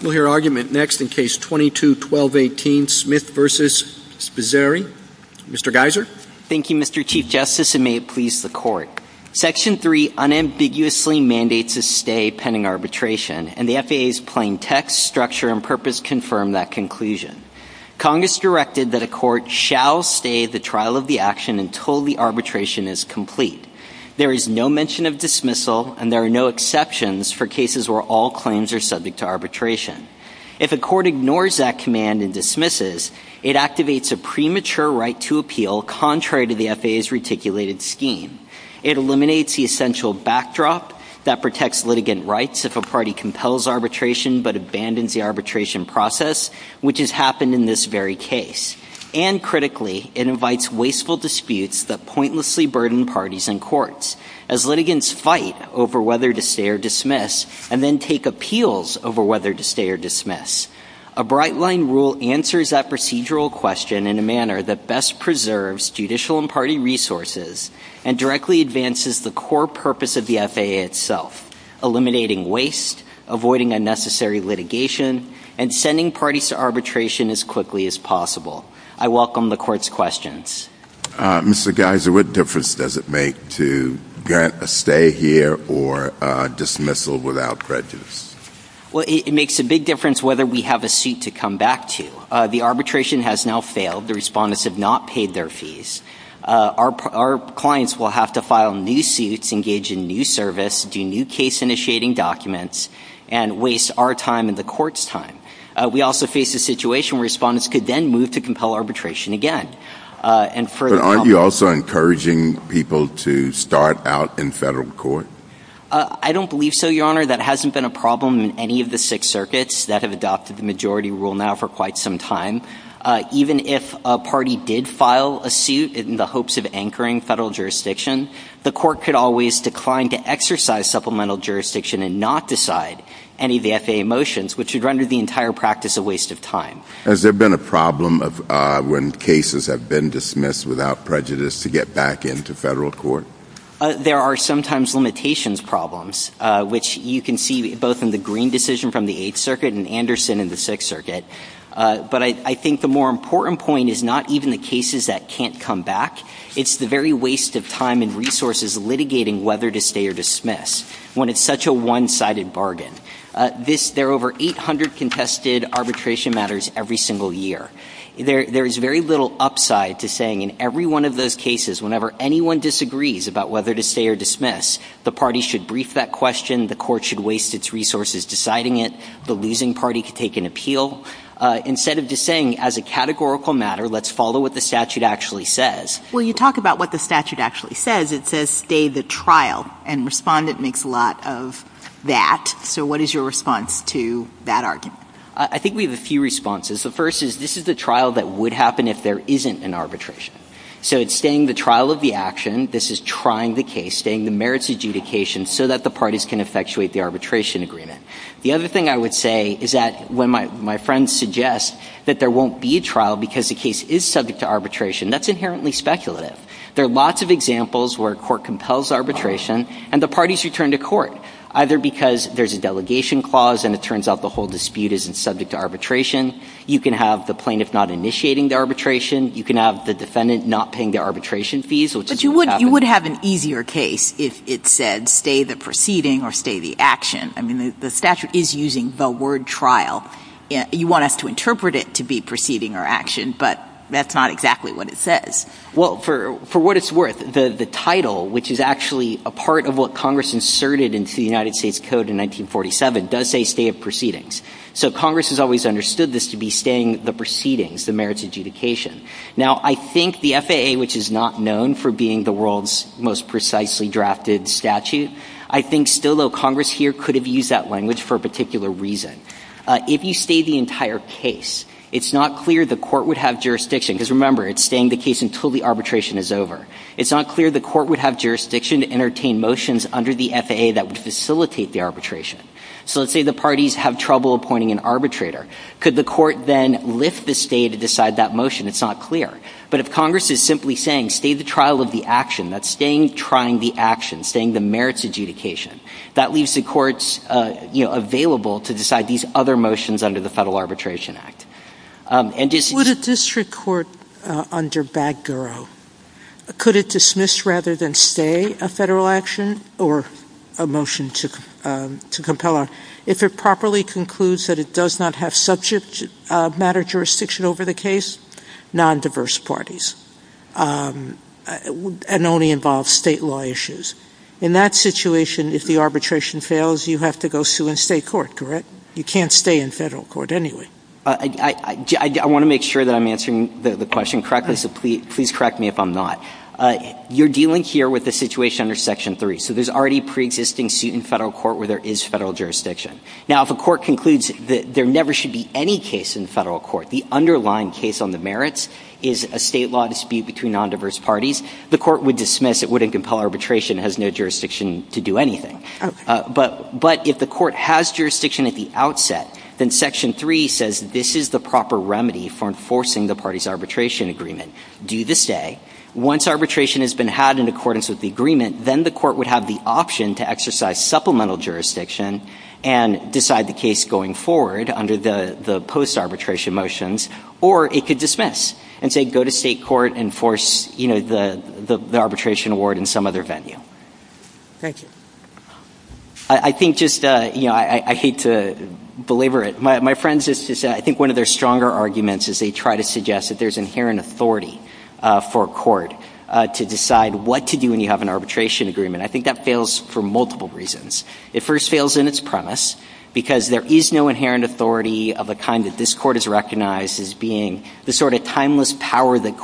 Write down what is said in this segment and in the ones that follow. We'll hear argument next in Case 22-1218, Smith v. Spizzirri. Mr. Geiser. Thank you, Mr. Chief Justice, and may it please the Court. Section 3 unambiguously mandates a stay pending arbitration, and the FAA's plain text, structure, and purpose confirm that conclusion. Congress directed that a court shall stay the trial of the action until the arbitration is complete. There is no mention of dismissal, and there are no exceptions for cases where all claims are subject to arbitration. If a court ignores that command and dismisses, it activates a premature right to appeal contrary to the FAA's reticulated scheme. It eliminates the essential backdrop that protects litigant rights if a party compels arbitration but abandons the arbitration process, which has happened in this very case. And critically, it invites wasteful disputes that pointlessly burden parties and whether to stay or dismiss and then take appeals over whether to stay or dismiss. A bright-line rule answers that procedural question in a manner that best preserves judicial and party resources and directly advances the core purpose of the FAA itself, eliminating waste, avoiding unnecessary litigation, and sending parties to arbitration as quickly as possible. I welcome the Court's questions. Mr. Geiser, what difference does it make to grant a stay here or dismissal without prejudice? Well, it makes a big difference whether we have a suit to come back to. The arbitration has now failed. The respondents have not paid their fees. Our clients will have to file new suits, engage in new service, do new case-initiating documents, and waste our time and the Court's time. We also face a situation where respondents could then move to compel arbitration again. But aren't you also encouraging people to start out in federal court? I don't believe so, Your Honor. That hasn't been a problem in any of the six circuits that have adopted the majority rule now for quite some time. Even if a party did file a suit in the hopes of anchoring federal jurisdiction, the Court could always decline to exercise supplemental jurisdiction and not decide any of the FAA motions, which would render the entire practice a problem. Has there been a problem when cases have been dismissed without prejudice to get back into federal court? There are sometimes limitations problems, which you can see both in the Green decision from the Eighth Circuit and Anderson in the Sixth Circuit. But I think the more important point is not even the cases that can't come back. It's the very waste of time and resources litigating whether to stay or dismiss when it's such a one-sided bargain. There are over 800 contested arbitration matters every single year. There is very little upside to saying in every one of those cases, whenever anyone disagrees about whether to stay or dismiss, the party should brief that question, the court should waste its resources deciding it, the losing party could take an appeal, instead of just saying, as a categorical matter, let's follow what the statute actually says. Well, you talk about what the statute actually says. It says stay the trial, and Respondent makes a lot of that. So what is your response to that argument? I think we have a few responses. The first is this is the trial that would happen if there isn't an arbitration. So it's staying the trial of the action. This is trying the case, staying the merits adjudication so that the parties can effectuate the arbitration agreement. The other thing I would say is that when my friends suggest that there won't be a trial because the case is subject to arbitration, that's inherently speculative. There are lots of examples where court compels arbitration, and the parties return to court, either because there's a delegation clause and it turns out the whole dispute isn't subject to arbitration. You can have the plaintiff not initiating the arbitration. You can have the defendant not paying the arbitration fees, which is what happens. But you would have an easier case if it said stay the proceeding or stay the action. I mean, the statute is using the word trial. You want us to interpret it to be proceeding or action, but that's not exactly what it says. Well, for what it's worth, the title, which is actually a part of what Congress inserted into the United States Code in 1947, does say stay of proceedings. So Congress has always understood this to be staying the proceedings, the merits adjudication. Now, I think the FAA, which is not known for being the world's most precisely drafted statute, I think still though Congress here could have used that language for a particular reason. If you stay the entire case, it's not clear the court would have jurisdiction, because remember, it's staying the case until the arbitration is over. It's not clear the court would have jurisdiction to entertain motions under the FAA that would facilitate the arbitration. So let's say the parties have trouble appointing an arbitrator. Could the court then lift the stay to decide that motion? It's not clear. But if Congress is simply saying stay the trial of the action, that's staying trying the action, staying the merits adjudication, that leaves the courts, you know, available to decide these other motions under the Federal Arbitration Act. Would a district court under Baggero, could it dismiss rather than stay a federal action or a motion to compel? If it properly concludes that it does not have subject matter jurisdiction over the case, non-diverse parties, and only involves state law issues. In that situation, if the arbitration fails, you have to go sue in state court, correct? You can't stay in federal court anyway. I want to make sure that I'm answering the question correctly, so please correct me if I'm not. You're dealing here with a situation under Section 3. So there's already pre-existing suit in federal court where there is federal jurisdiction. Now, if a court concludes that there never should be any case in federal court, the underlying case on the merits is a state law dispute between non-diverse parties, the court would dismiss. It wouldn't compel arbitration. It has no jurisdiction to do anything. But if the court has jurisdiction at the outset, then Section 3 says this is the proper remedy for enforcing the party's arbitration agreement. Do this day. Once arbitration has been had in accordance with the agreement, then the court would have the option to exercise supplemental jurisdiction and decide the case going forward under the post arbitration motions, or it could dismiss and say go to state court and force the arbitration award in some other venue. Thank you. I think just, you know, I hate to belabor it. My friends, I think one of their stronger arguments is they try to suggest that there's inherent authority for a court to decide what to do when you have an arbitration agreement. I think that fails for multiple reasons. It first fails in its premise, because there is no inherent authority of the kind that this Court has recognized as being the sort of timeless power that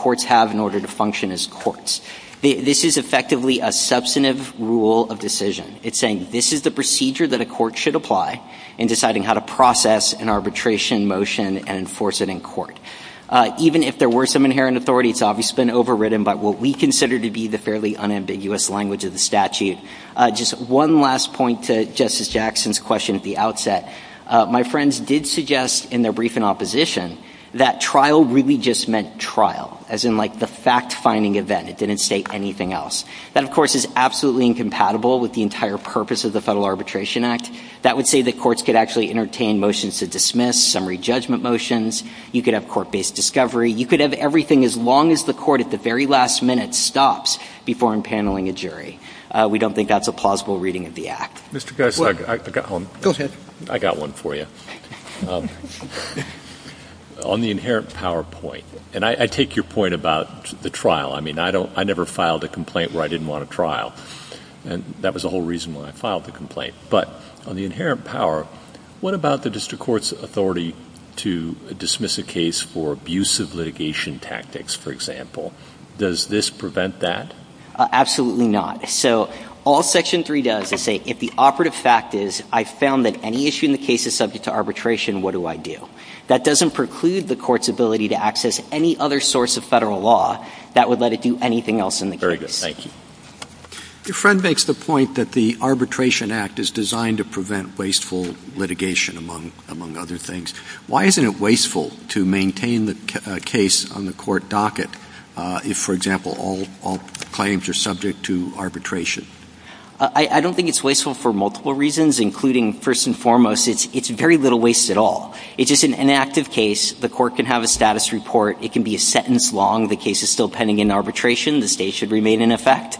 of decision. It's saying this is the procedure that a court should apply in deciding how to process an arbitration motion and enforce it in court. Even if there were some inherent authority, it's obviously been overridden by what we consider to be the fairly unambiguous language of the statute. Just one last point to Justice Jackson's question at the outset. My friends did suggest in their brief in opposition that trial really just meant trial, as in like the fact finding event. It didn't state anything else. That, of course, is absolutely incompatible with the entire purpose of the Federal Arbitration Act. That would say that courts could actually entertain motions to dismiss, summary judgment motions. You could have court-based discovery. You could have everything as long as the court at the very last minute stops before impaneling a jury. We don't think that's a plausible reading of the Act. Mr. Guest, I got one. Go ahead. I got one for you. On the inherent power point, and I take your point about the trial. I mean, I never filed a complaint where I didn't want a trial, and that was the whole reason why I filed the complaint. But on the inherent power, what about the district court's authority to dismiss a case for abusive litigation tactics, for example? Does this prevent that? Absolutely not. So all Section 3 does is say if the operative fact is I found that any issue in the case is subject to arbitration, what do I do? That doesn't preclude the court's ability to access any other source of Federal law that would let it do anything else in the case. Very good. Thank you. Your friend makes the point that the Arbitration Act is designed to prevent wasteful litigation, among other things. Why isn't it wasteful to maintain the case on the court docket if, for example, all claims are subject to arbitration? I don't think it's wasteful for multiple reasons, including, first and foremost, it's very little waste at all. It's just an inactive case. The court can have a status report. It can be a sentence long. The case is still pending in arbitration. The state should remain in effect.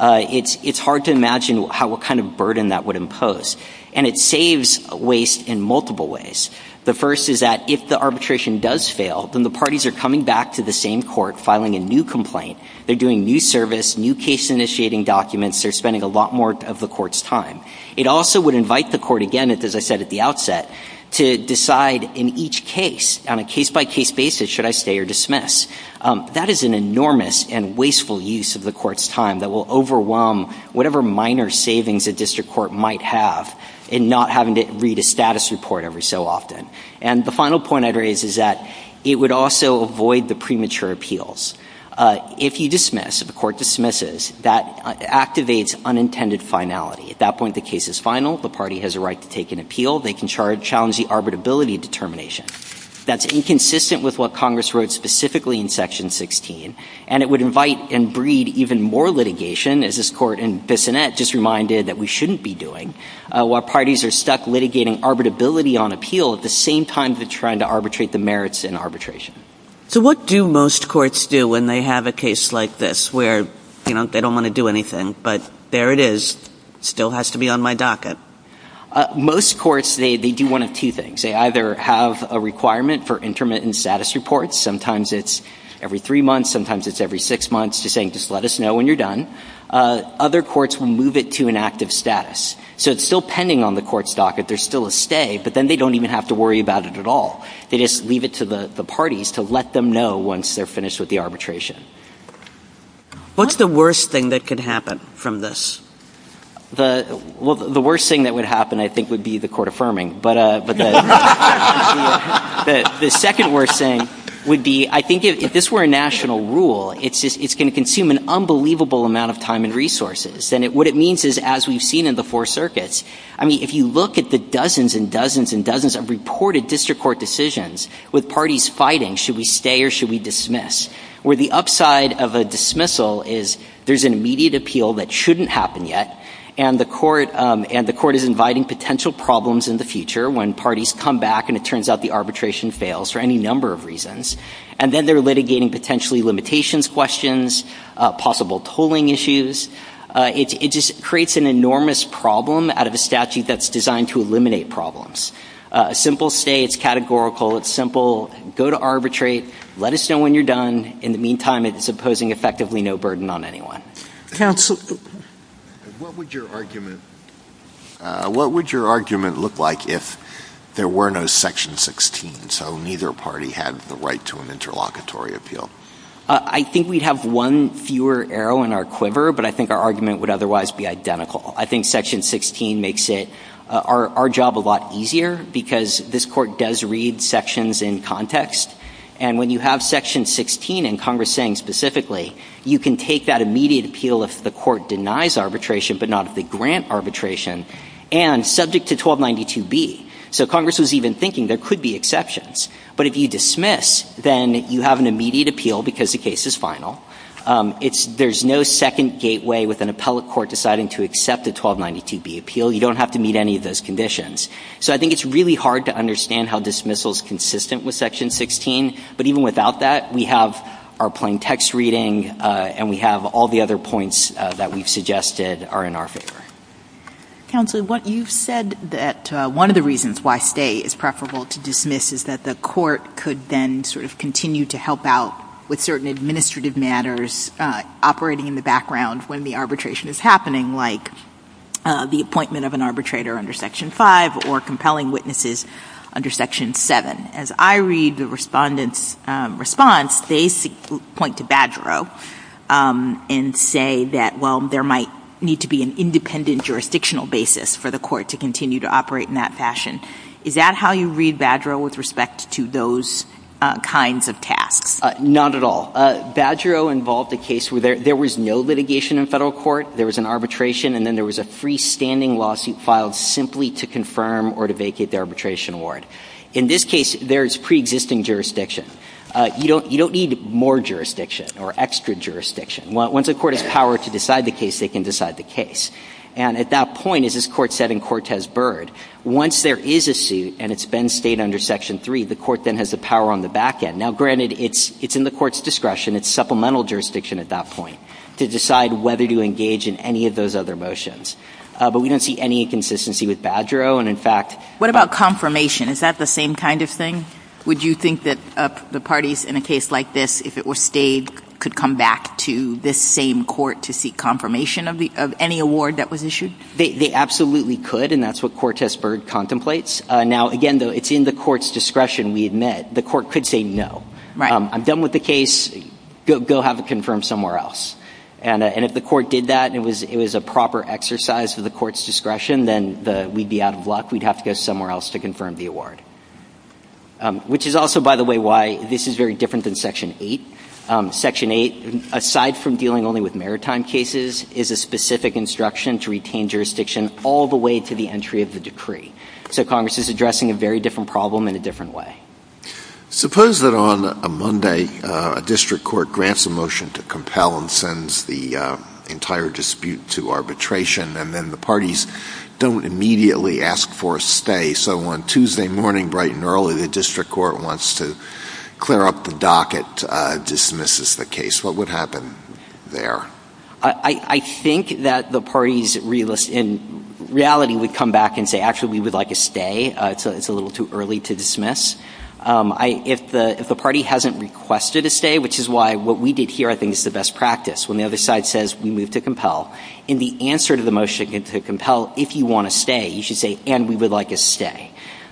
It's hard to imagine what kind of burden that would impose. And it saves waste in multiple ways. The first is that if the arbitration does fail, then the parties are coming back to the same court, filing a new complaint. They're doing new service, new case-initiating documents. They're spending a lot more of the court's time. It also would invite the court, again, as I said at the outset, to decide in each case, on a case-by-case basis, should I stay or dismiss? That is an enormous and wasteful use of the court's time that will overwhelm whatever minor savings a district court might have in not having to read a status report every so often. And the final point I'd raise is that it would also avoid the premature finality. At that point, the case is final. The party has a right to take an appeal. They can challenge the arbitrability determination. That's inconsistent with what Congress wrote specifically in Section 16. And it would invite and breed even more litigation, as this court in Bissonnette just reminded that we shouldn't be doing, while parties are stuck litigating arbitrability on appeal at the same time they're trying to arbitrate the merits in arbitration. So what do most courts do when they have a case like this where, you know, they don't want to do anything, but there it is, still has to be on my docket? Most courts, they do one of two things. They either have a requirement for intermittent status reports. Sometimes it's every three months. Sometimes it's every six months, just saying, just let us know when you're done. Other courts will move it to an active status. So it's still pending on the court's docket. There's still a stay, but then they don't even have to worry about it at all. They just leave it to the parties to let them know once they're finished with the arbitration. What's the worst thing that could happen from this? The — well, the worst thing that would happen, I think, would be the court affirming. But the second worst thing would be, I think, if this were a national rule, it's just — it's going to consume an unbelievable amount of time and resources. And what it means is, as we've seen in the Four Circuits, I mean, if you look at the dozens and dozens and dozens of reported district court decisions with parties fighting, should we stay or should we dismiss, where the upside of a dismissal is there's an immediate appeal that shouldn't happen yet, and the court — and the court is inviting potential problems in the future when parties come back and it turns out the arbitration fails for any number of reasons. And then they're litigating potentially limitations questions, possible tolling issues. It just creates an enormous problem out of a statute that's designed to eliminate problems. A simple stay, it's categorical. It's simple. Go to arbitrate. Let us know when you're done. In the meantime, it's imposing effectively no burden on anyone. Counsel — What would your argument — what would your argument look like if there were no Section 16, so neither party had the right to an interlocutory appeal? I think we'd have one fewer arrow in our quiver, but I think our argument would otherwise be identical. I think Section 16 makes it — our job a lot easier, because this Court does read sections in context. And when you have Section 16, and Congress saying specifically, you can take that immediate appeal if the Court denies arbitration, but not if they grant arbitration, and subject to 1292B. So Congress was even thinking there could be exceptions. But if you dismiss, then you have an immediate appeal because the case is final. It's — there's no second gateway with an appellate court deciding to accept a 1292B appeal. You don't have to meet any of those conditions. So I think it's really hard to understand how dismissal's consistent with Section 16. But even without that, we have our plain text reading, and we have all the other points that we've suggested are in our favor. Counsel, you've said that one of the reasons why stay is preferable to dismiss is that the Court could then sort of continue to help out with certain administrative matters operating in the background when the arbitration is happening, like the appointment of an arbitrator under Section 5, or compelling witnesses under Section 7. As I read the Respondent's response, they point to Badgero and say that, well, there might need to be an independent jurisdictional basis for the Court to continue to operate in that fashion. Is that how you read Badgero with respect to those kinds of tasks? Not at all. Badgero involved a case where there was no litigation in federal court, there was an arbitration, and then there was a freestanding lawsuit filed simply to confirm or to vacate the arbitration award. In this case, there is preexisting jurisdiction. You don't need more jurisdiction or extra jurisdiction. Once a court has power to decide the case, they can decide the case. And at that point, as this Court said in Cortez-Byrd, once there is a suit and it's been stayed under Section 3, the Court's discretion, it's supplemental jurisdiction at that point, to decide whether to engage in any of those other motions. But we don't see any inconsistency with Badgero, and in fact... What about confirmation? Is that the same kind of thing? Would you think that the parties in a case like this, if it were stayed, could come back to this same court to seek confirmation of any award that was issued? They absolutely could, and that's what Cortez-Byrd contemplates. Now, again, though, it's in the Court's discretion, we admit. The Court could say, no. I'm done with the case. Go have it confirmed somewhere else. And if the Court did that, and it was a proper exercise of the Court's discretion, then we'd be out of luck. We'd have to go somewhere else to confirm the award. Which is also, by the way, why this is very different than Section 8. Section 8, aside from dealing only with maritime cases, is a specific instruction to retain jurisdiction all the way to the entry of the decree. So Congress is addressing a very different problem in a different way. Suppose that on a Monday, a district court grants a motion to compel and sends the entire dispute to arbitration, and then the parties don't immediately ask for a stay. So on Tuesday morning, bright and early, the district court wants to clear up the docket, dismisses the case. What would happen there? I think that the parties, in reality, would come back and say, actually, we would like a stay. It's a little too early to dismiss. If the party hasn't requested a stay, which is why what we did here, I think, is the best practice, when the other side says we move to compel, in the answer to the motion to compel, if you want a stay, you should say, and we would like a stay.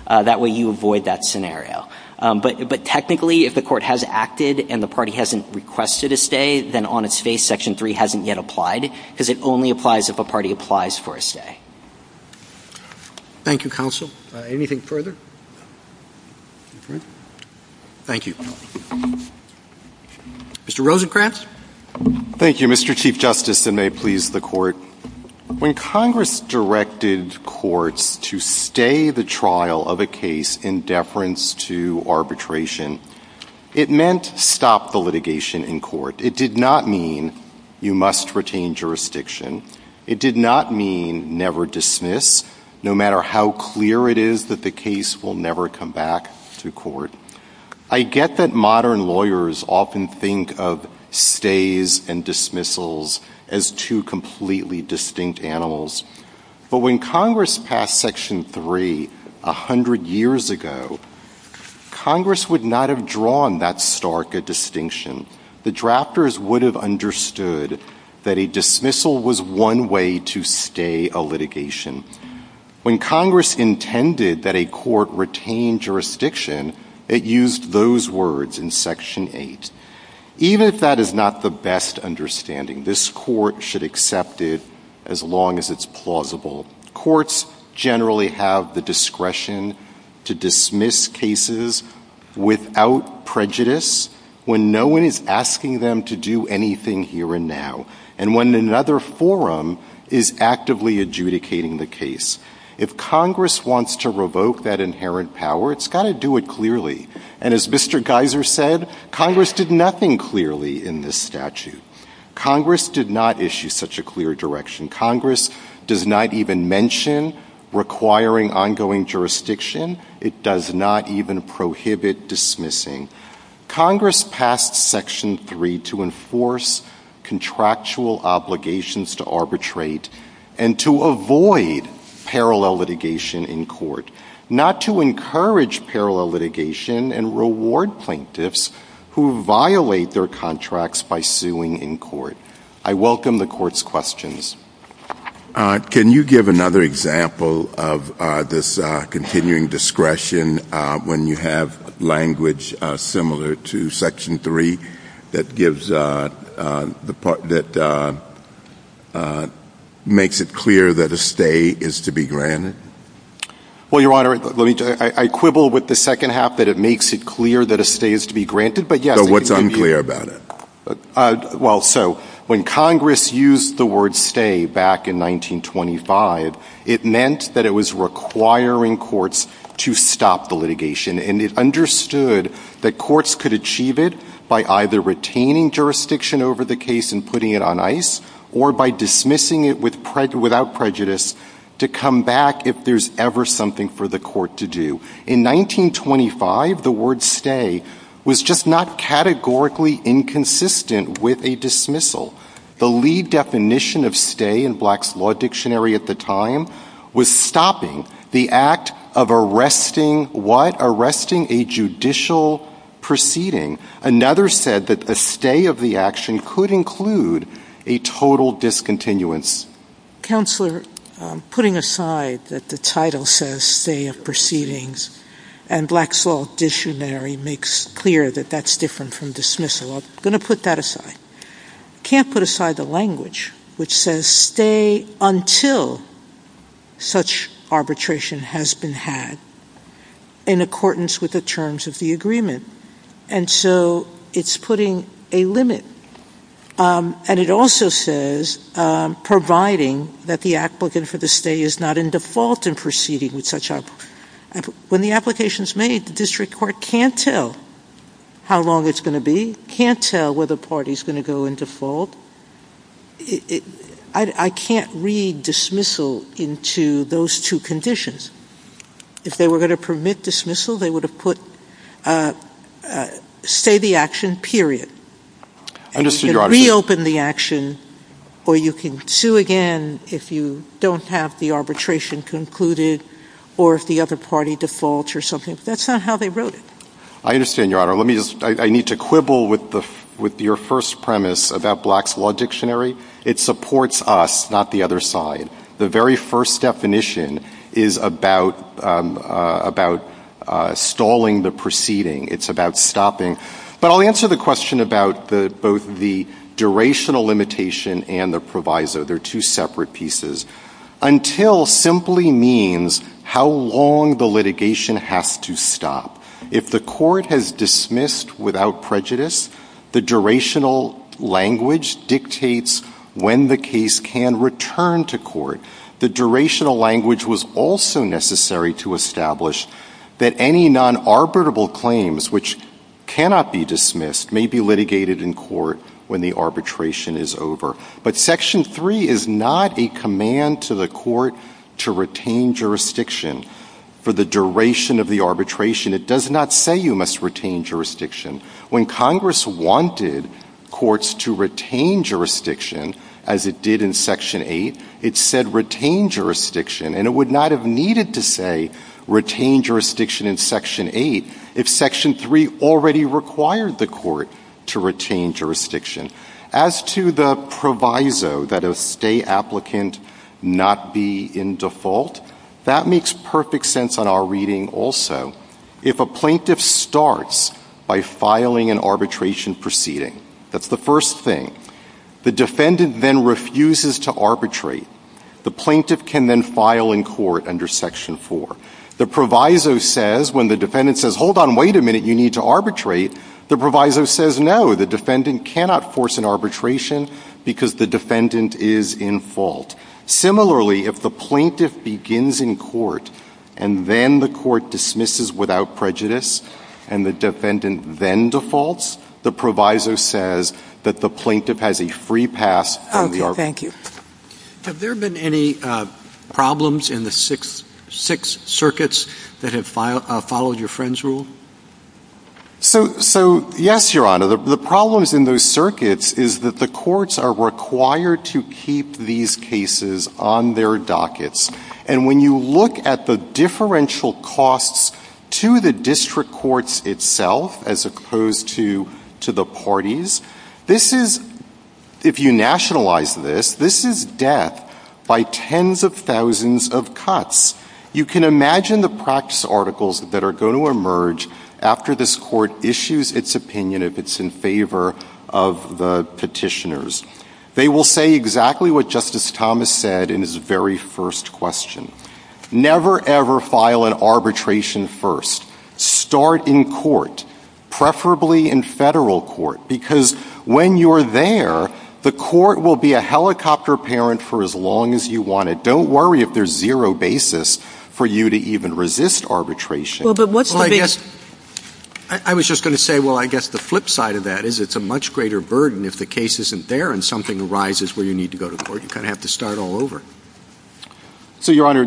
That way, you avoid that scenario. But technically, if the Court has acted and the party hasn't requested a stay, then on its face, Section 3 hasn't yet applied, because it only applies if a party applies for a stay. Thank you, counsel. Anything further? Thank you. Mr. Rosenkranz. Thank you, Mr. Chief Justice, and may it please the Court. When Congress directed courts to stay the trial of a case in deference to arbitration, it meant stop the litigation in court. It did not mean you must retain jurisdiction. It did not mean never dismiss, no matter how clear it is that the case will never come back to court. I get that modern lawyers often think of stays and dismissals as two completely distinct animals, but when Congress passed Section 3 100 years ago, Congress would not have drawn that stark a distinction the drafters would have understood that a dismissal was one way to stay a litigation. When Congress intended that a court retain jurisdiction, it used those words in Section 8. Even if that is not the best understanding, this Court should accept it as long as it's plausible. Courts generally have the discretion to dismiss cases without prejudice when no one is asking them to do anything here and now and when another forum is actively adjudicating the case. If Congress wants to revoke that inherent power, it's got to do it clearly. And as Mr. Geiser said, Congress did nothing clearly in this statute. Congress did not issue such a clear direction. Congress does not even mention requiring ongoing jurisdiction. It does not even prohibit dismissing. Congress passed Section 3 to enforce contractual obligations to arbitrate and to avoid parallel litigation in court, not to encourage parallel litigation and reward plaintiffs who violate their contracts by suing in court. I welcome the Court's questions. Can you give another example of this continuing discretion when you have language similar to Section 3 that gives the part that makes it clear that a stay is to be granted? Well, Your Honor, I quibble with the second half that it makes it clear that a stay is to be granted, but yes. What's unclear about it? Well, so when Congress used the word stay back in 1925, it meant that it was requiring courts to stop the litigation, and it understood that courts could achieve it by either retaining jurisdiction over the case and putting it on ice or by dismissing it without prejudice to come back if there's ever something for the court to do. In 1925, the word stay was just not categorically inconsistent with a dismissal. The lead definition of stay in Black's Law Dictionary at the time was stopping the act of arresting what? Arresting a judicial proceeding. Another said that a stay of the action could include a total discontinuance. Counselor, putting aside that the title says stay of proceedings and Black's Law Dictionary makes clear that that's different from dismissal. I'm going to put that aside. Can't put aside the language which says stay until such arbitration has been had in accordance with the terms of the agreement. And so it's putting a limit. And it also says providing that the applicant for the stay is not in default in proceeding with such. When the application is made, the judge can't tell how long it's going to be, can't tell whether a party is going to go in default. I can't read dismissal into those two conditions. If they were going to permit dismissal, they would have put stay the action, period. And you can reopen the action or you can sue again if you don't have the arbitration concluded or if the other party defaults or something. That's not how they wrote it. I understand, Your Honor. Let me just, I need to quibble with the, with your first premise about Black's Law Dictionary. It supports us, not the other side. The very first definition is about, about stalling the proceeding. It's about stopping. But I'll answer the question about the, both the durational limitation and the proviso. They're two separate pieces. Until simply means how long the litigation has to stop. If the court has dismissed without prejudice, the durational language dictates when the case can return to court. The durational language was also necessary to establish that any non-arbitrable claims which cannot be dismissed may be litigated in court when the arbitration is over. But Section 3 is not a command to the court to retain jurisdiction for the duration of the arbitration. It does not say you must retain jurisdiction. When Congress wanted courts to retain jurisdiction, as it did in Section 8, it said retain jurisdiction. And it would not have needed to say retain jurisdiction in Section 8 if Section 3 already required the court to retain jurisdiction. As to the proviso that a stay applicant not be in default, that makes perfect sense on our reading also. If a plaintiff starts by filing an arbitration proceeding, that's the first thing. The defendant then refuses to arbitrate. The plaintiff can then file in court under Section 4. The proviso says, when the defendant says, hold on, wait a minute, you need to arbitrate, the proviso says, no, the defendant cannot force an arbitration because the defendant is in fault. Similarly, if the plaintiff begins in court and then the court dismisses without prejudice and the defendant then defaults, the proviso says that the plaintiff has a free pass from the arbitration. Okay. Thank you. Have there been any problems in the six circuits that have followed your friend's rule? So, yes, Your Honor. The problems in those circuits is that the courts are required to keep these cases on their dockets. And when you look at the differential costs to the district courts itself, as opposed to the parties, this is, if you nationalize this, this is death by tens of thousands of cuts. You can imagine the practice articles that are going to emerge after this court issues its opinion if it's in favor of the petitioners. They will say exactly what Justice Thomas said in his very first question. Never ever file an arbitration first. Start in court, preferably in federal court, because when you're there, the court will be a helicopter parent for as long as you want it. Don't worry if there's zero basis for you to even resist arbitration. Well, but what's the big — Well, I guess — I was just going to say, well, I guess the flip side of that is it's a much greater burden if the case isn't there and something arises where you need to go to court. You kind of have to start all over. So, Your Honor,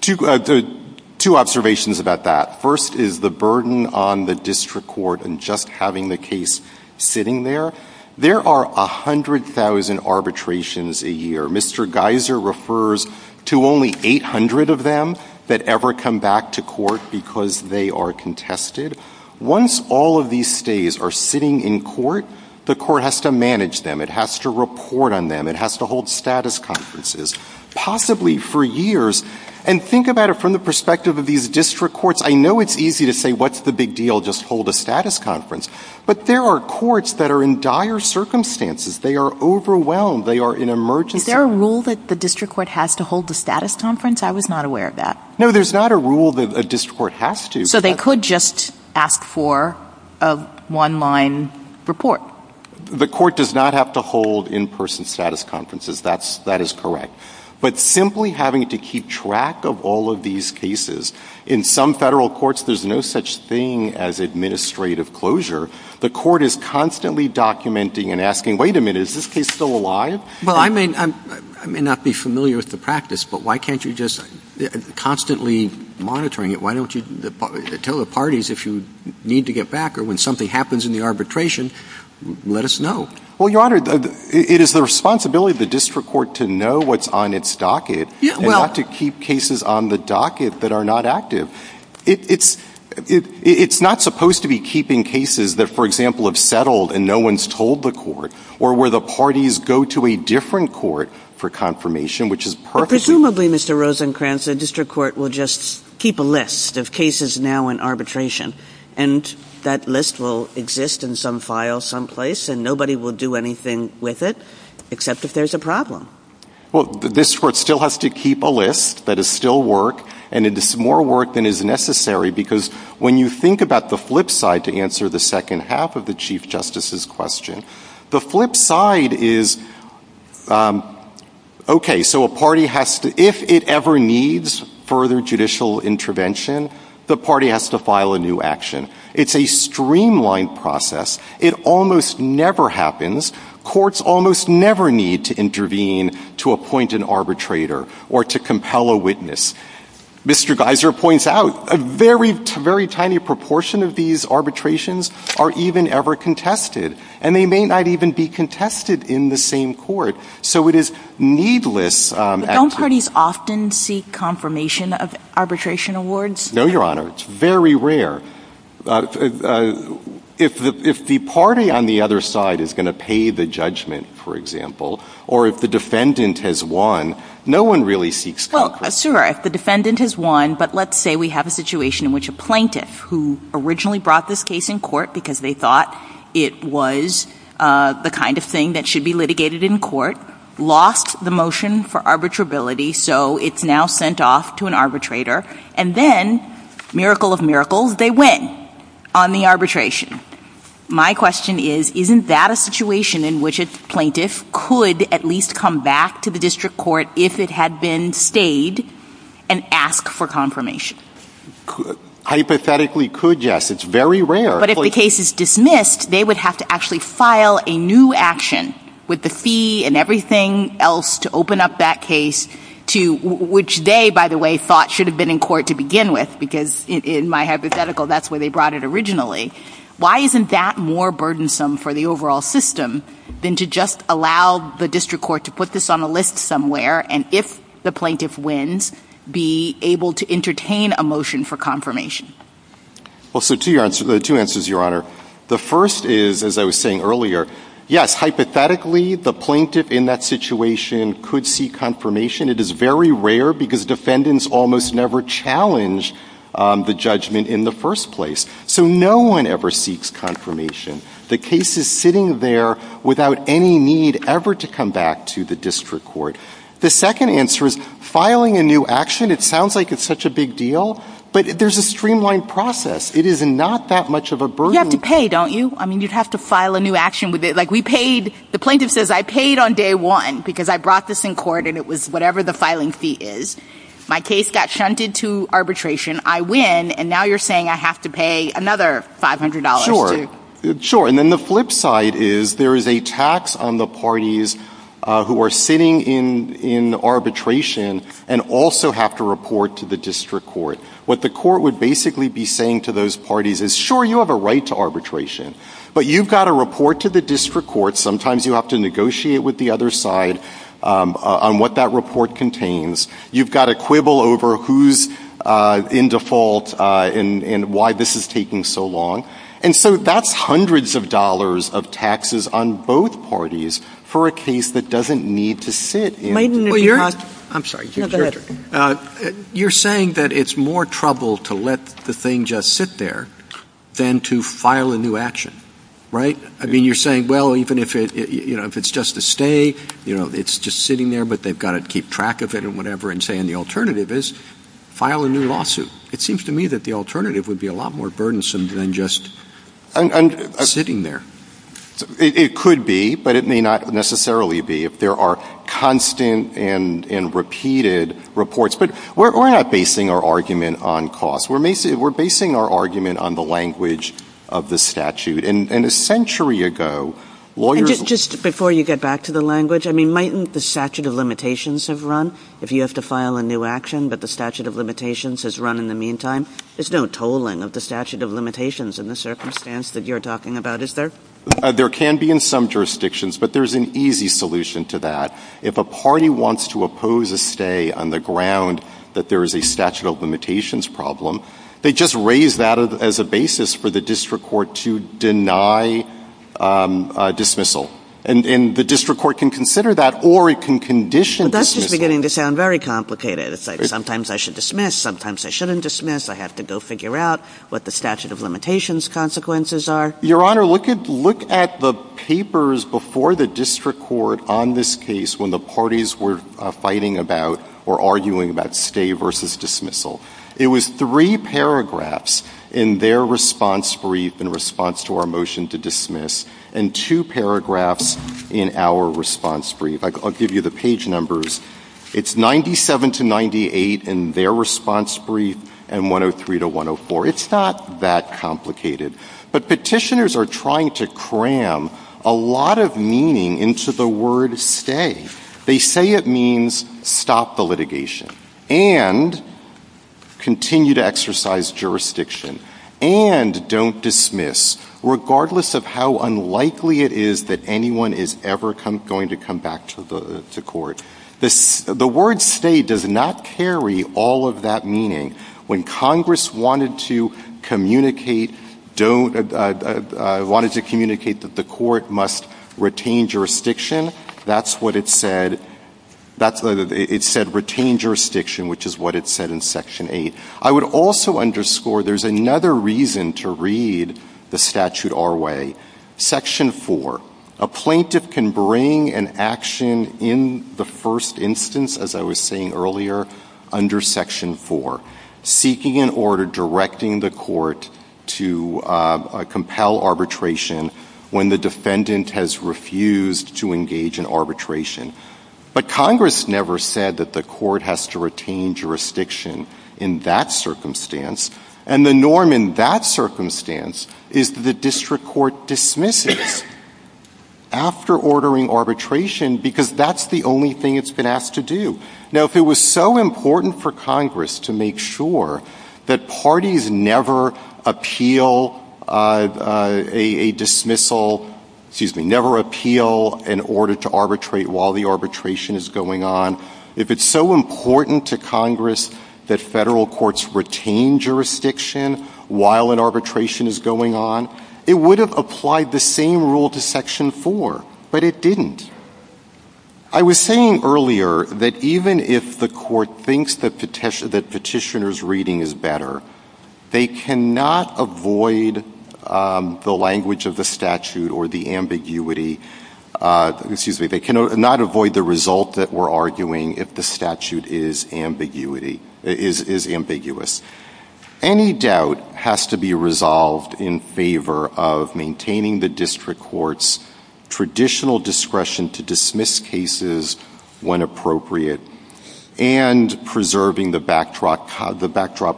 two observations about that. First is the burden on the district court in just having the case sitting there. There are 100,000 arbitrations a year. Mr. Geiser refers to only 800 of them that ever come back to court because they are contested. Once all of these stays are sitting in court, the court has to manage them. It has to report on them. It has to hold status conferences, possibly for years. And think about it from the perspective of these district courts. I know it's easy to say, what's the big deal? Just hold a status conference. But there are courts that are in dire circumstances. They are overwhelmed. They are in emergency — Is there a rule that the district court has to hold a status conference? I was not aware of that. No, there's not a rule that a district court has to. So they could just ask for a one-line report. The court does not have to hold in-person status conferences. That is correct. But simply having to keep track of all of these cases. In some Federal courts, there's no such thing as administrative closure. The court is constantly documenting and asking, wait a minute, is this case still alive? Well, I may not be familiar with the practice, but why can't you just — constantly monitoring it, why don't you tell the parties if you need to get back or when something happens in the arbitration, let us know? Well, Your Honor, it is the responsibility of the district court to know what's on its docket. Yeah, well — And not to keep cases on the docket that are not active. It's not supposed to be keeping cases that, for example, have settled and no one's told the court, or where the parties go to a different court for confirmation, which is perfectly — But presumably, Mr. Rosencrantz, the district court will just keep a list of cases now in arbitration. And that list will exist in some file someplace, and nobody will do anything with it, except if there's a problem. Well, this court still has to keep a list that is still work, and it is more work than is necessary, because when you think about the flip side, to answer the second half of the Chief Justice's question, the flip side is, OK, so a party has to — if it ever needs further judicial intervention, the party has to file a new action. It's a streamlined process. It almost never happens. Courts almost never need to intervene to appoint an arbitrator or to compel a witness. Mr. Geiser points out, a very, very tiny proportion of these arbitrations are even ever contested, and they may not even be contested in the same court. So it is needless — But don't parties often seek confirmation of arbitration awards? No, Your Honor. It's very rare. If the party on the other side is going to pay the judgment, for example, or if the defendant has won, no one really seeks confirmation. Well, sure, if the defendant has won, but let's say we have a situation in which a plaintiff who originally brought this case in court because they thought it was the kind of thing that should be litigated in court, lost the motion for arbitrability, so it's now sent off to an arbitrator, and then, miracle of miracles, they win on the arbitration. My question is, isn't that a situation in which a plaintiff could at least come back to the district court if it had been stayed and ask for confirmation? Hypothetically, could, yes. It's very rare. But if the case is dismissed, they would have to actually file a new action with the fee and everything else to open up that case to — which they, by the way, thought should have been in court to begin with, because in my hypothetical, that's where they brought it originally. Why isn't that more burdensome for the overall system than to just allow the district court to put this on a list somewhere, and if the plaintiff wins, be able to entertain a motion for confirmation? Well, so two answers, Your Honor. The first is, as I was saying earlier, yes, hypothetically, the plaintiff in that situation could seek confirmation. It is very rare, because defendants almost never challenge the judgment in the first place. So no one ever seeks confirmation. The case is sitting there without any need ever to come back to the district court. The second answer is, filing a new action, it sounds like it's such a big deal, but there's a streamlined process. It is not that much of a burden — You have to pay, don't you? I mean, you'd have to file a new action with it. Like, we said, I paid on day one, because I brought this in court, and it was whatever the filing fee is. My case got shunted to arbitration. I win, and now you're saying I have to pay another $500 to — Sure. Sure. And then the flip side is, there is a tax on the parties who are sitting in arbitration and also have to report to the district court. What the court would basically be saying to those parties is, sure, you have a right to arbitration, but you've got to report to the district court. Sometimes you have to negotiate with the other side on what that report contains. You've got to quibble over who's in default and why this is taking so long. And so that's hundreds of dollars of taxes on both parties for a case that doesn't need to sit in. Maiden, if you could — Well, you're — I'm sorry. No, go ahead. You're saying that it's more trouble to let the thing just sit there than to file a new action, right? I mean, you're saying, well, even if it — you know, if it's just a stay, you know, it's just sitting there, but they've got to keep track of it and whatever, and say — and the alternative is file a new lawsuit. It seems to me that the alternative would be a lot more burdensome than just sitting there. It could be, but it may not necessarily be, if there are constant and repeated reports. But we're not basing our argument on cost. We're basing our argument on the language of the statute. And a century ago, lawyers — And just before you get back to the language, I mean, mightn't the statute of limitations have run? If you have to file a new action, but the statute of limitations has run in the meantime, there's no tolling of the statute of limitations in the circumstance that you're talking about, is there? There can be in some jurisdictions, but there's an easy solution to that. If a party wants to oppose a stay on the ground that there is a statute of limitations problem, they just raise that as a basis for the district court to deny dismissal. And the district court can consider that, or it can condition dismissal. But that's just beginning to sound very complicated. It's like sometimes I should dismiss, sometimes I shouldn't dismiss, I have to go figure out what the statute of limitations consequences are. Your Honor, look at the papers before the district court on this case when the parties were fighting about or arguing about stay versus dismissal. It was three paragraphs in their response brief in response to our motion to dismiss and two paragraphs in our response brief. I'll give you the page numbers. It's 97 to 98 in their response brief and 103 to 104. It's not that complicated. But petitioners are trying to cram a lot of meaning into the word stay. They say it means stop the litigation and continue to exercise jurisdiction and don't dismiss, regardless of how unlikely it is that anyone is ever going to come back to court. The word stay does not carry all of that meaning. When Congress wanted to communicate don't, wanted to communicate that the court must retain jurisdiction, that's what it said. It said retain jurisdiction, which is what it said in Section 8. I would also underscore there's another reason to read the statute our way. Section 4, a plaintiff can bring an action in the first instance, as I was saying earlier, under Section 4, seeking an order directing the court to compel arbitration when the defendant has refused to engage in arbitration. But Congress never said that the court has to retain jurisdiction in that circumstance. And the norm in that circumstance is that the district court dismisses after ordering arbitration because that's the only thing it's been asked to do. Now, if it was so important for Congress to make sure that parties never appeal a dismissal, excuse me, never appeal an order to arbitrate while the arbitration is going on, if it's so important to Congress that Federal courts retain jurisdiction while an arbitration is going on, it would have applied the same rule to Section 4, but it didn't. I was saying earlier that even if the court thinks that petitioner's reading is better, they cannot avoid the language of the statute or the ambiguity, excuse me, they cannot avoid the result that we're arguing if the statute is ambiguity, is ambiguous. Any doubt has to be resolved in favor of maintaining the district court's traditional discretion to dismiss cases when appropriate and preserving the backdrop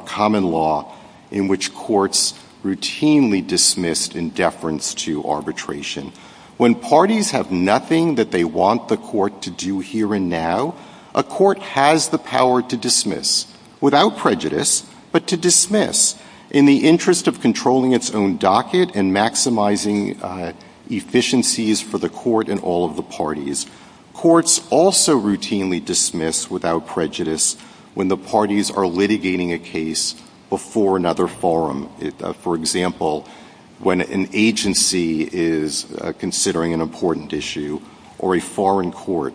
common law in which courts routinely dismissed in deference to arbitration. When parties have nothing that they want the court to do here and now, a court has the interest of controlling its own docket and maximizing efficiencies for the court and all of the parties. Courts also routinely dismiss without prejudice when the parties are litigating a case before another forum. For example, when an agency is considering an important issue or a foreign court.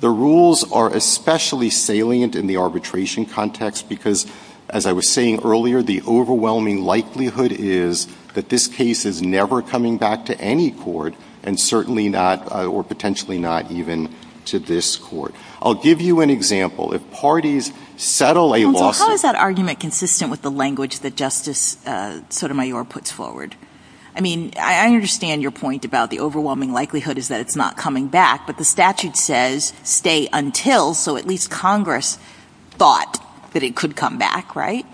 The rules are especially salient in the arbitration context because, as I was saying earlier, the overwhelming likelihood is that this case is never coming back to any court and certainly not, or potentially not, even to this court. I'll give you an example. If parties settle a lawsuit — So how is that argument consistent with the language that Justice Sotomayor puts forward? I mean, I understand your point about the overwhelming likelihood is that it's not coming back, but the statute says, stay until, so at least Congress thought that it could come back, right?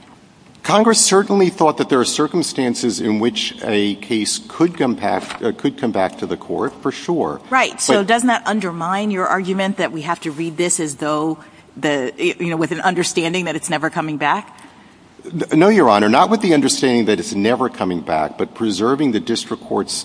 Congress certainly thought that there are circumstances in which a case could come back to the court, for sure. Right. So doesn't that undermine your argument that we have to read this as though, you know, with an understanding that it's never coming back? No, Your Honor, not with the understanding that it's never coming back, but preserving the district court's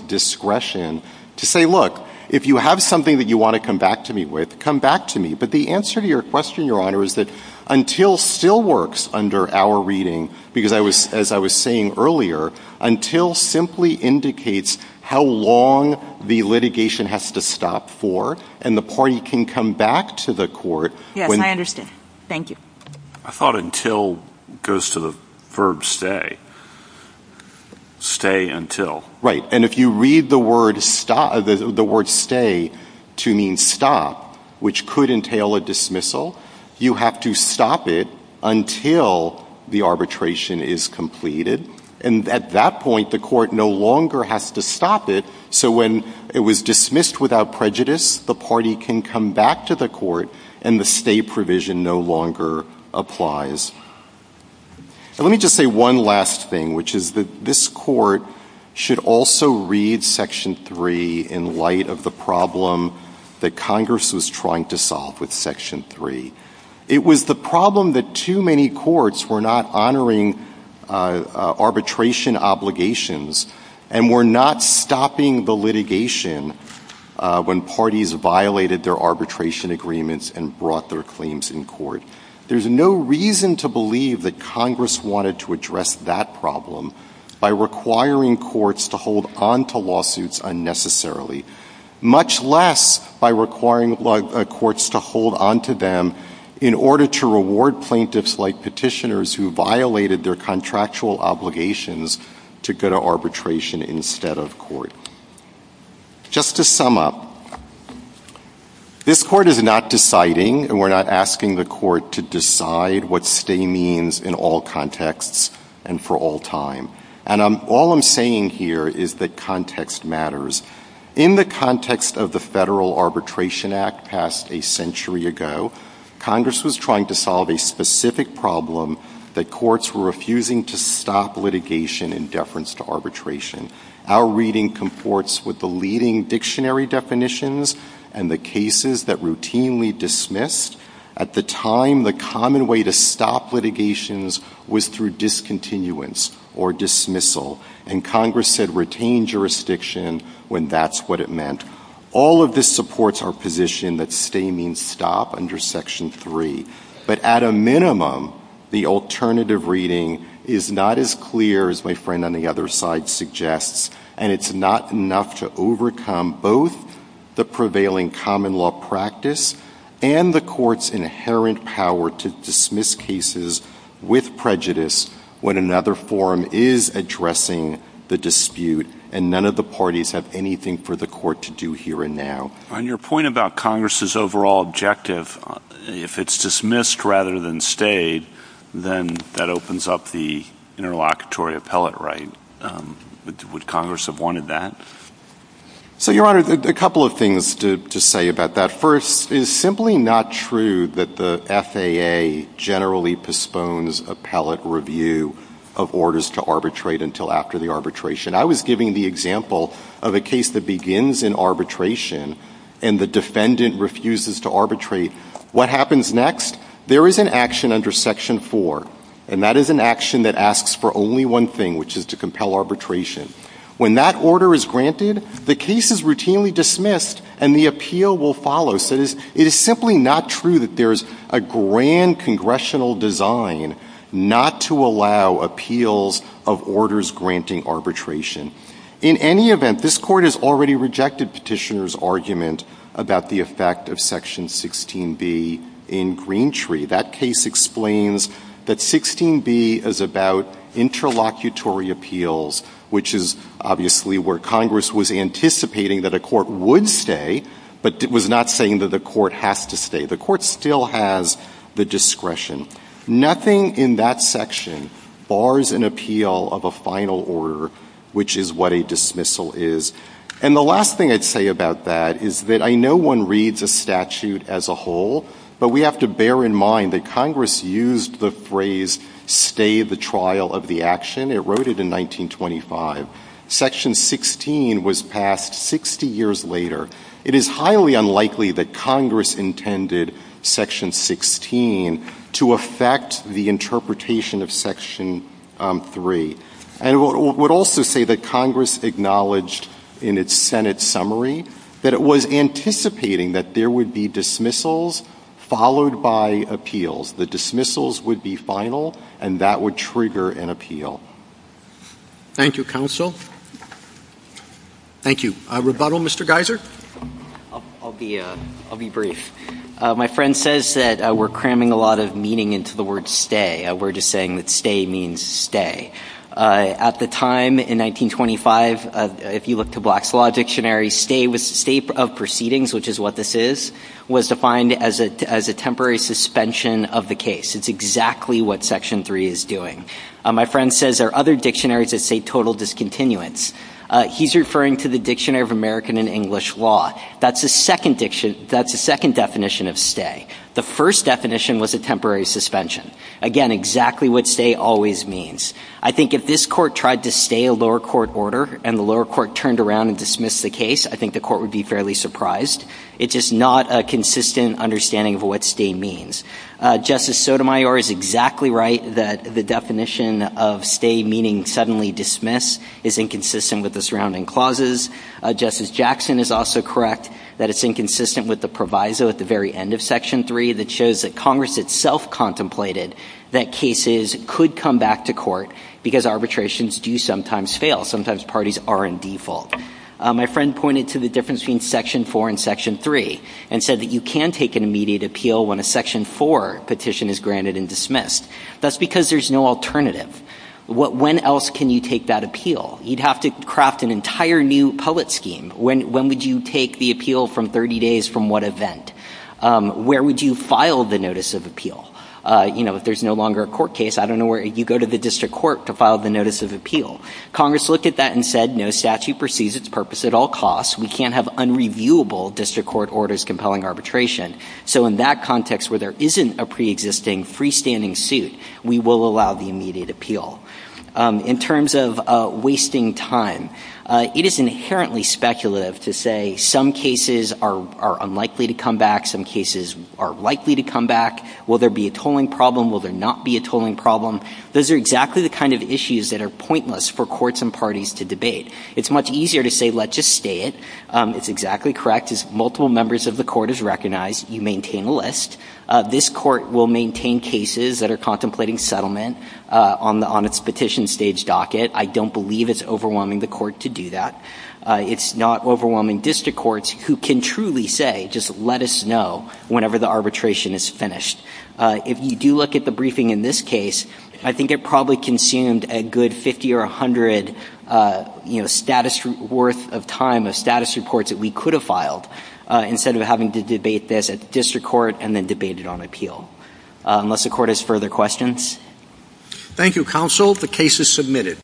discretion to say, look, if you have something that you want to come back to me with, come back to me. But the answer to your question, Your Honor, is that until still works under our reading, because I was — as I was saying earlier, until simply indicates how long the litigation has to stop for, and the party can come back to the court when — Yes, I understand. Thank you. I thought until goes to the verb stay. Stay until. Right. And if you read the word stay to mean stop, which could entail a dismissal, you have to stop it until the arbitration is completed. And at that point, the court no longer has to stop it, so when it was dismissed without prejudice, the party can come back to the court, and the stay provision no longer applies. And let me just say one last thing, which is that this court should also read Section 3 in light of the problem that Congress was trying to solve with Section 3. It was the problem that too many courts were not honoring arbitration obligations and were not stopping the litigation when parties violated their arbitration agreements and brought their claims in court. There's no reason to believe that Congress wanted to address that problem by requiring courts to hold onto lawsuits unnecessarily, much less by requiring courts to hold onto them in order to reward plaintiffs like petitioners who violated their contractual obligations to go to arbitration instead of court. Just to sum up, this court is not deciding, and we're not asking the court to decide what stay means in all contexts and for all time. And all I'm saying here is that context matters. In the context of the Federal Arbitration Act passed a century ago, Congress was trying to solve a specific problem that courts were refusing to stop litigation in deference to courts with the leading dictionary definitions and the cases that routinely dismissed. At the time, the common way to stop litigations was through discontinuance or dismissal. And Congress said retain jurisdiction when that's what it meant. All of this supports our position that stay means stop under Section 3. But at a minimum, the alternative reading is not as clear as my friend on the other side suggests, and it's not enough to overcome both the prevailing common law practice and the court's inherent power to dismiss cases with prejudice when another forum is addressing the dispute, and none of the parties have anything for the court to do here and now. On your point about Congress's overall objective, if it's dismissed rather than stayed, then that opens up the interlocutory appellate right. Would Congress have wanted that? So Your Honor, a couple of things to say about that. First, it's simply not true that the FAA generally postpones appellate review of orders to arbitrate until after the arbitration. I was giving the example of a case that begins in arbitration, and the defendant refuses to arbitrate. What happens next? There is an action under Section 4, and that is an action that asks for only one thing, which is to compel arbitration. When that order is granted, the case is routinely dismissed and the appeal will follow. So it is simply not true that there is a grand congressional design not to allow appeals of orders granting arbitration. In any event, this Court has already rejected Petitioner's argument about the effect of Section 16b in Greentree. That case explains that 16b is about interlocutory appeals, which is obviously where Congress was anticipating that a court would stay, but was not saying that the court has to stay. The court still has the discretion. Nothing in that section bars an appeal of a final order, which is what a dismissal is. And the last thing I'd say about that is that I know one reads a statute as a whole, but we have to bear in mind that Congress used the phrase, stay the trial of the action. It wrote it in 1925. Section 16 was passed 60 years later. It is highly unlikely that that would be true. And I would also say that Congress acknowledged in its Senate summary that it was anticipating that there would be dismissals followed by appeals. The dismissals would be final and that would trigger an appeal. Thank you, counsel. Thank you. Rebuttal, Mr. Geiser? I'll be brief. My friend says that we're cramming a lot of meaning into the word stay. We're just saying that stay means stay. At the time in 1925, if you look to Black's Law Dictionary, stay was state of proceedings, which is what this is, was defined as a temporary suspension of the case. It's exactly what Section 3 is doing. My friend says there are other dictionaries that say total discontinuance. He's referring to the Dictionary of American and English Law. That's the second definition of stay. The first definition was a temporary suspension. Again, exactly what stay always means. I think if this Court tried to stay a lower court order and the lower court turned around and dismissed the case, I think the Court would be fairly surprised. It's just not a consistent understanding of what stay means. Justice Sotomayor is exactly right that the definition of stay meaning suddenly dismiss is inconsistent with the surrounding clauses. Justice Jackson is also correct that it's inconsistent with the proviso at the very end of Section 3 that shows that Congress itself contemplated that cases could come back to court because arbitrations do sometimes fail. Sometimes parties are in default. My friend pointed to the difference between Section 4 and Section 3 and said that you can take an immediate appeal when a Section 4 petition is granted and dismissed. That's because there's no alternative. When else can you take that appeal? You'd have to craft an entire new pullet scheme. When would you take the appeal from 30 days from what event? Where would you file the notice of appeal? You know, if there's no longer a court case, I don't know where you go to the district court to file the notice of appeal. Congress looked at that and said, no statute perceives its purpose at all costs. We can't have unreviewable district court orders compelling arbitration. So in that context where there isn't a preexisting freestanding suit, we will allow the immediate appeal. In terms of wasting time, it is inherently speculative to say some cases are unlikely to come back, some cases are likely to come back. Will there be a tolling problem? Will there not be a tolling problem? Those are exactly the kind of issues that are pointless for courts and parties to debate. It's much easier to say, let's just stay it. It's exactly correct. As multiple members of the Court has recognized, you maintain a list. This Court will maintain cases that are contemplating settlement on the honor petition stage docket. I don't believe it's overwhelming the Court to do that. It's not overwhelming district courts who can truly say, just let us know whenever the arbitration is finished. If you do look at the briefing in this case, I think it probably consumed a good 50 or 100, you know, status worth of time of status reports that we could have filed instead of having to debate this at the district court and then debate it on appeal. Unless the Court has further questions? Thank you, Counsel. The case is submitted.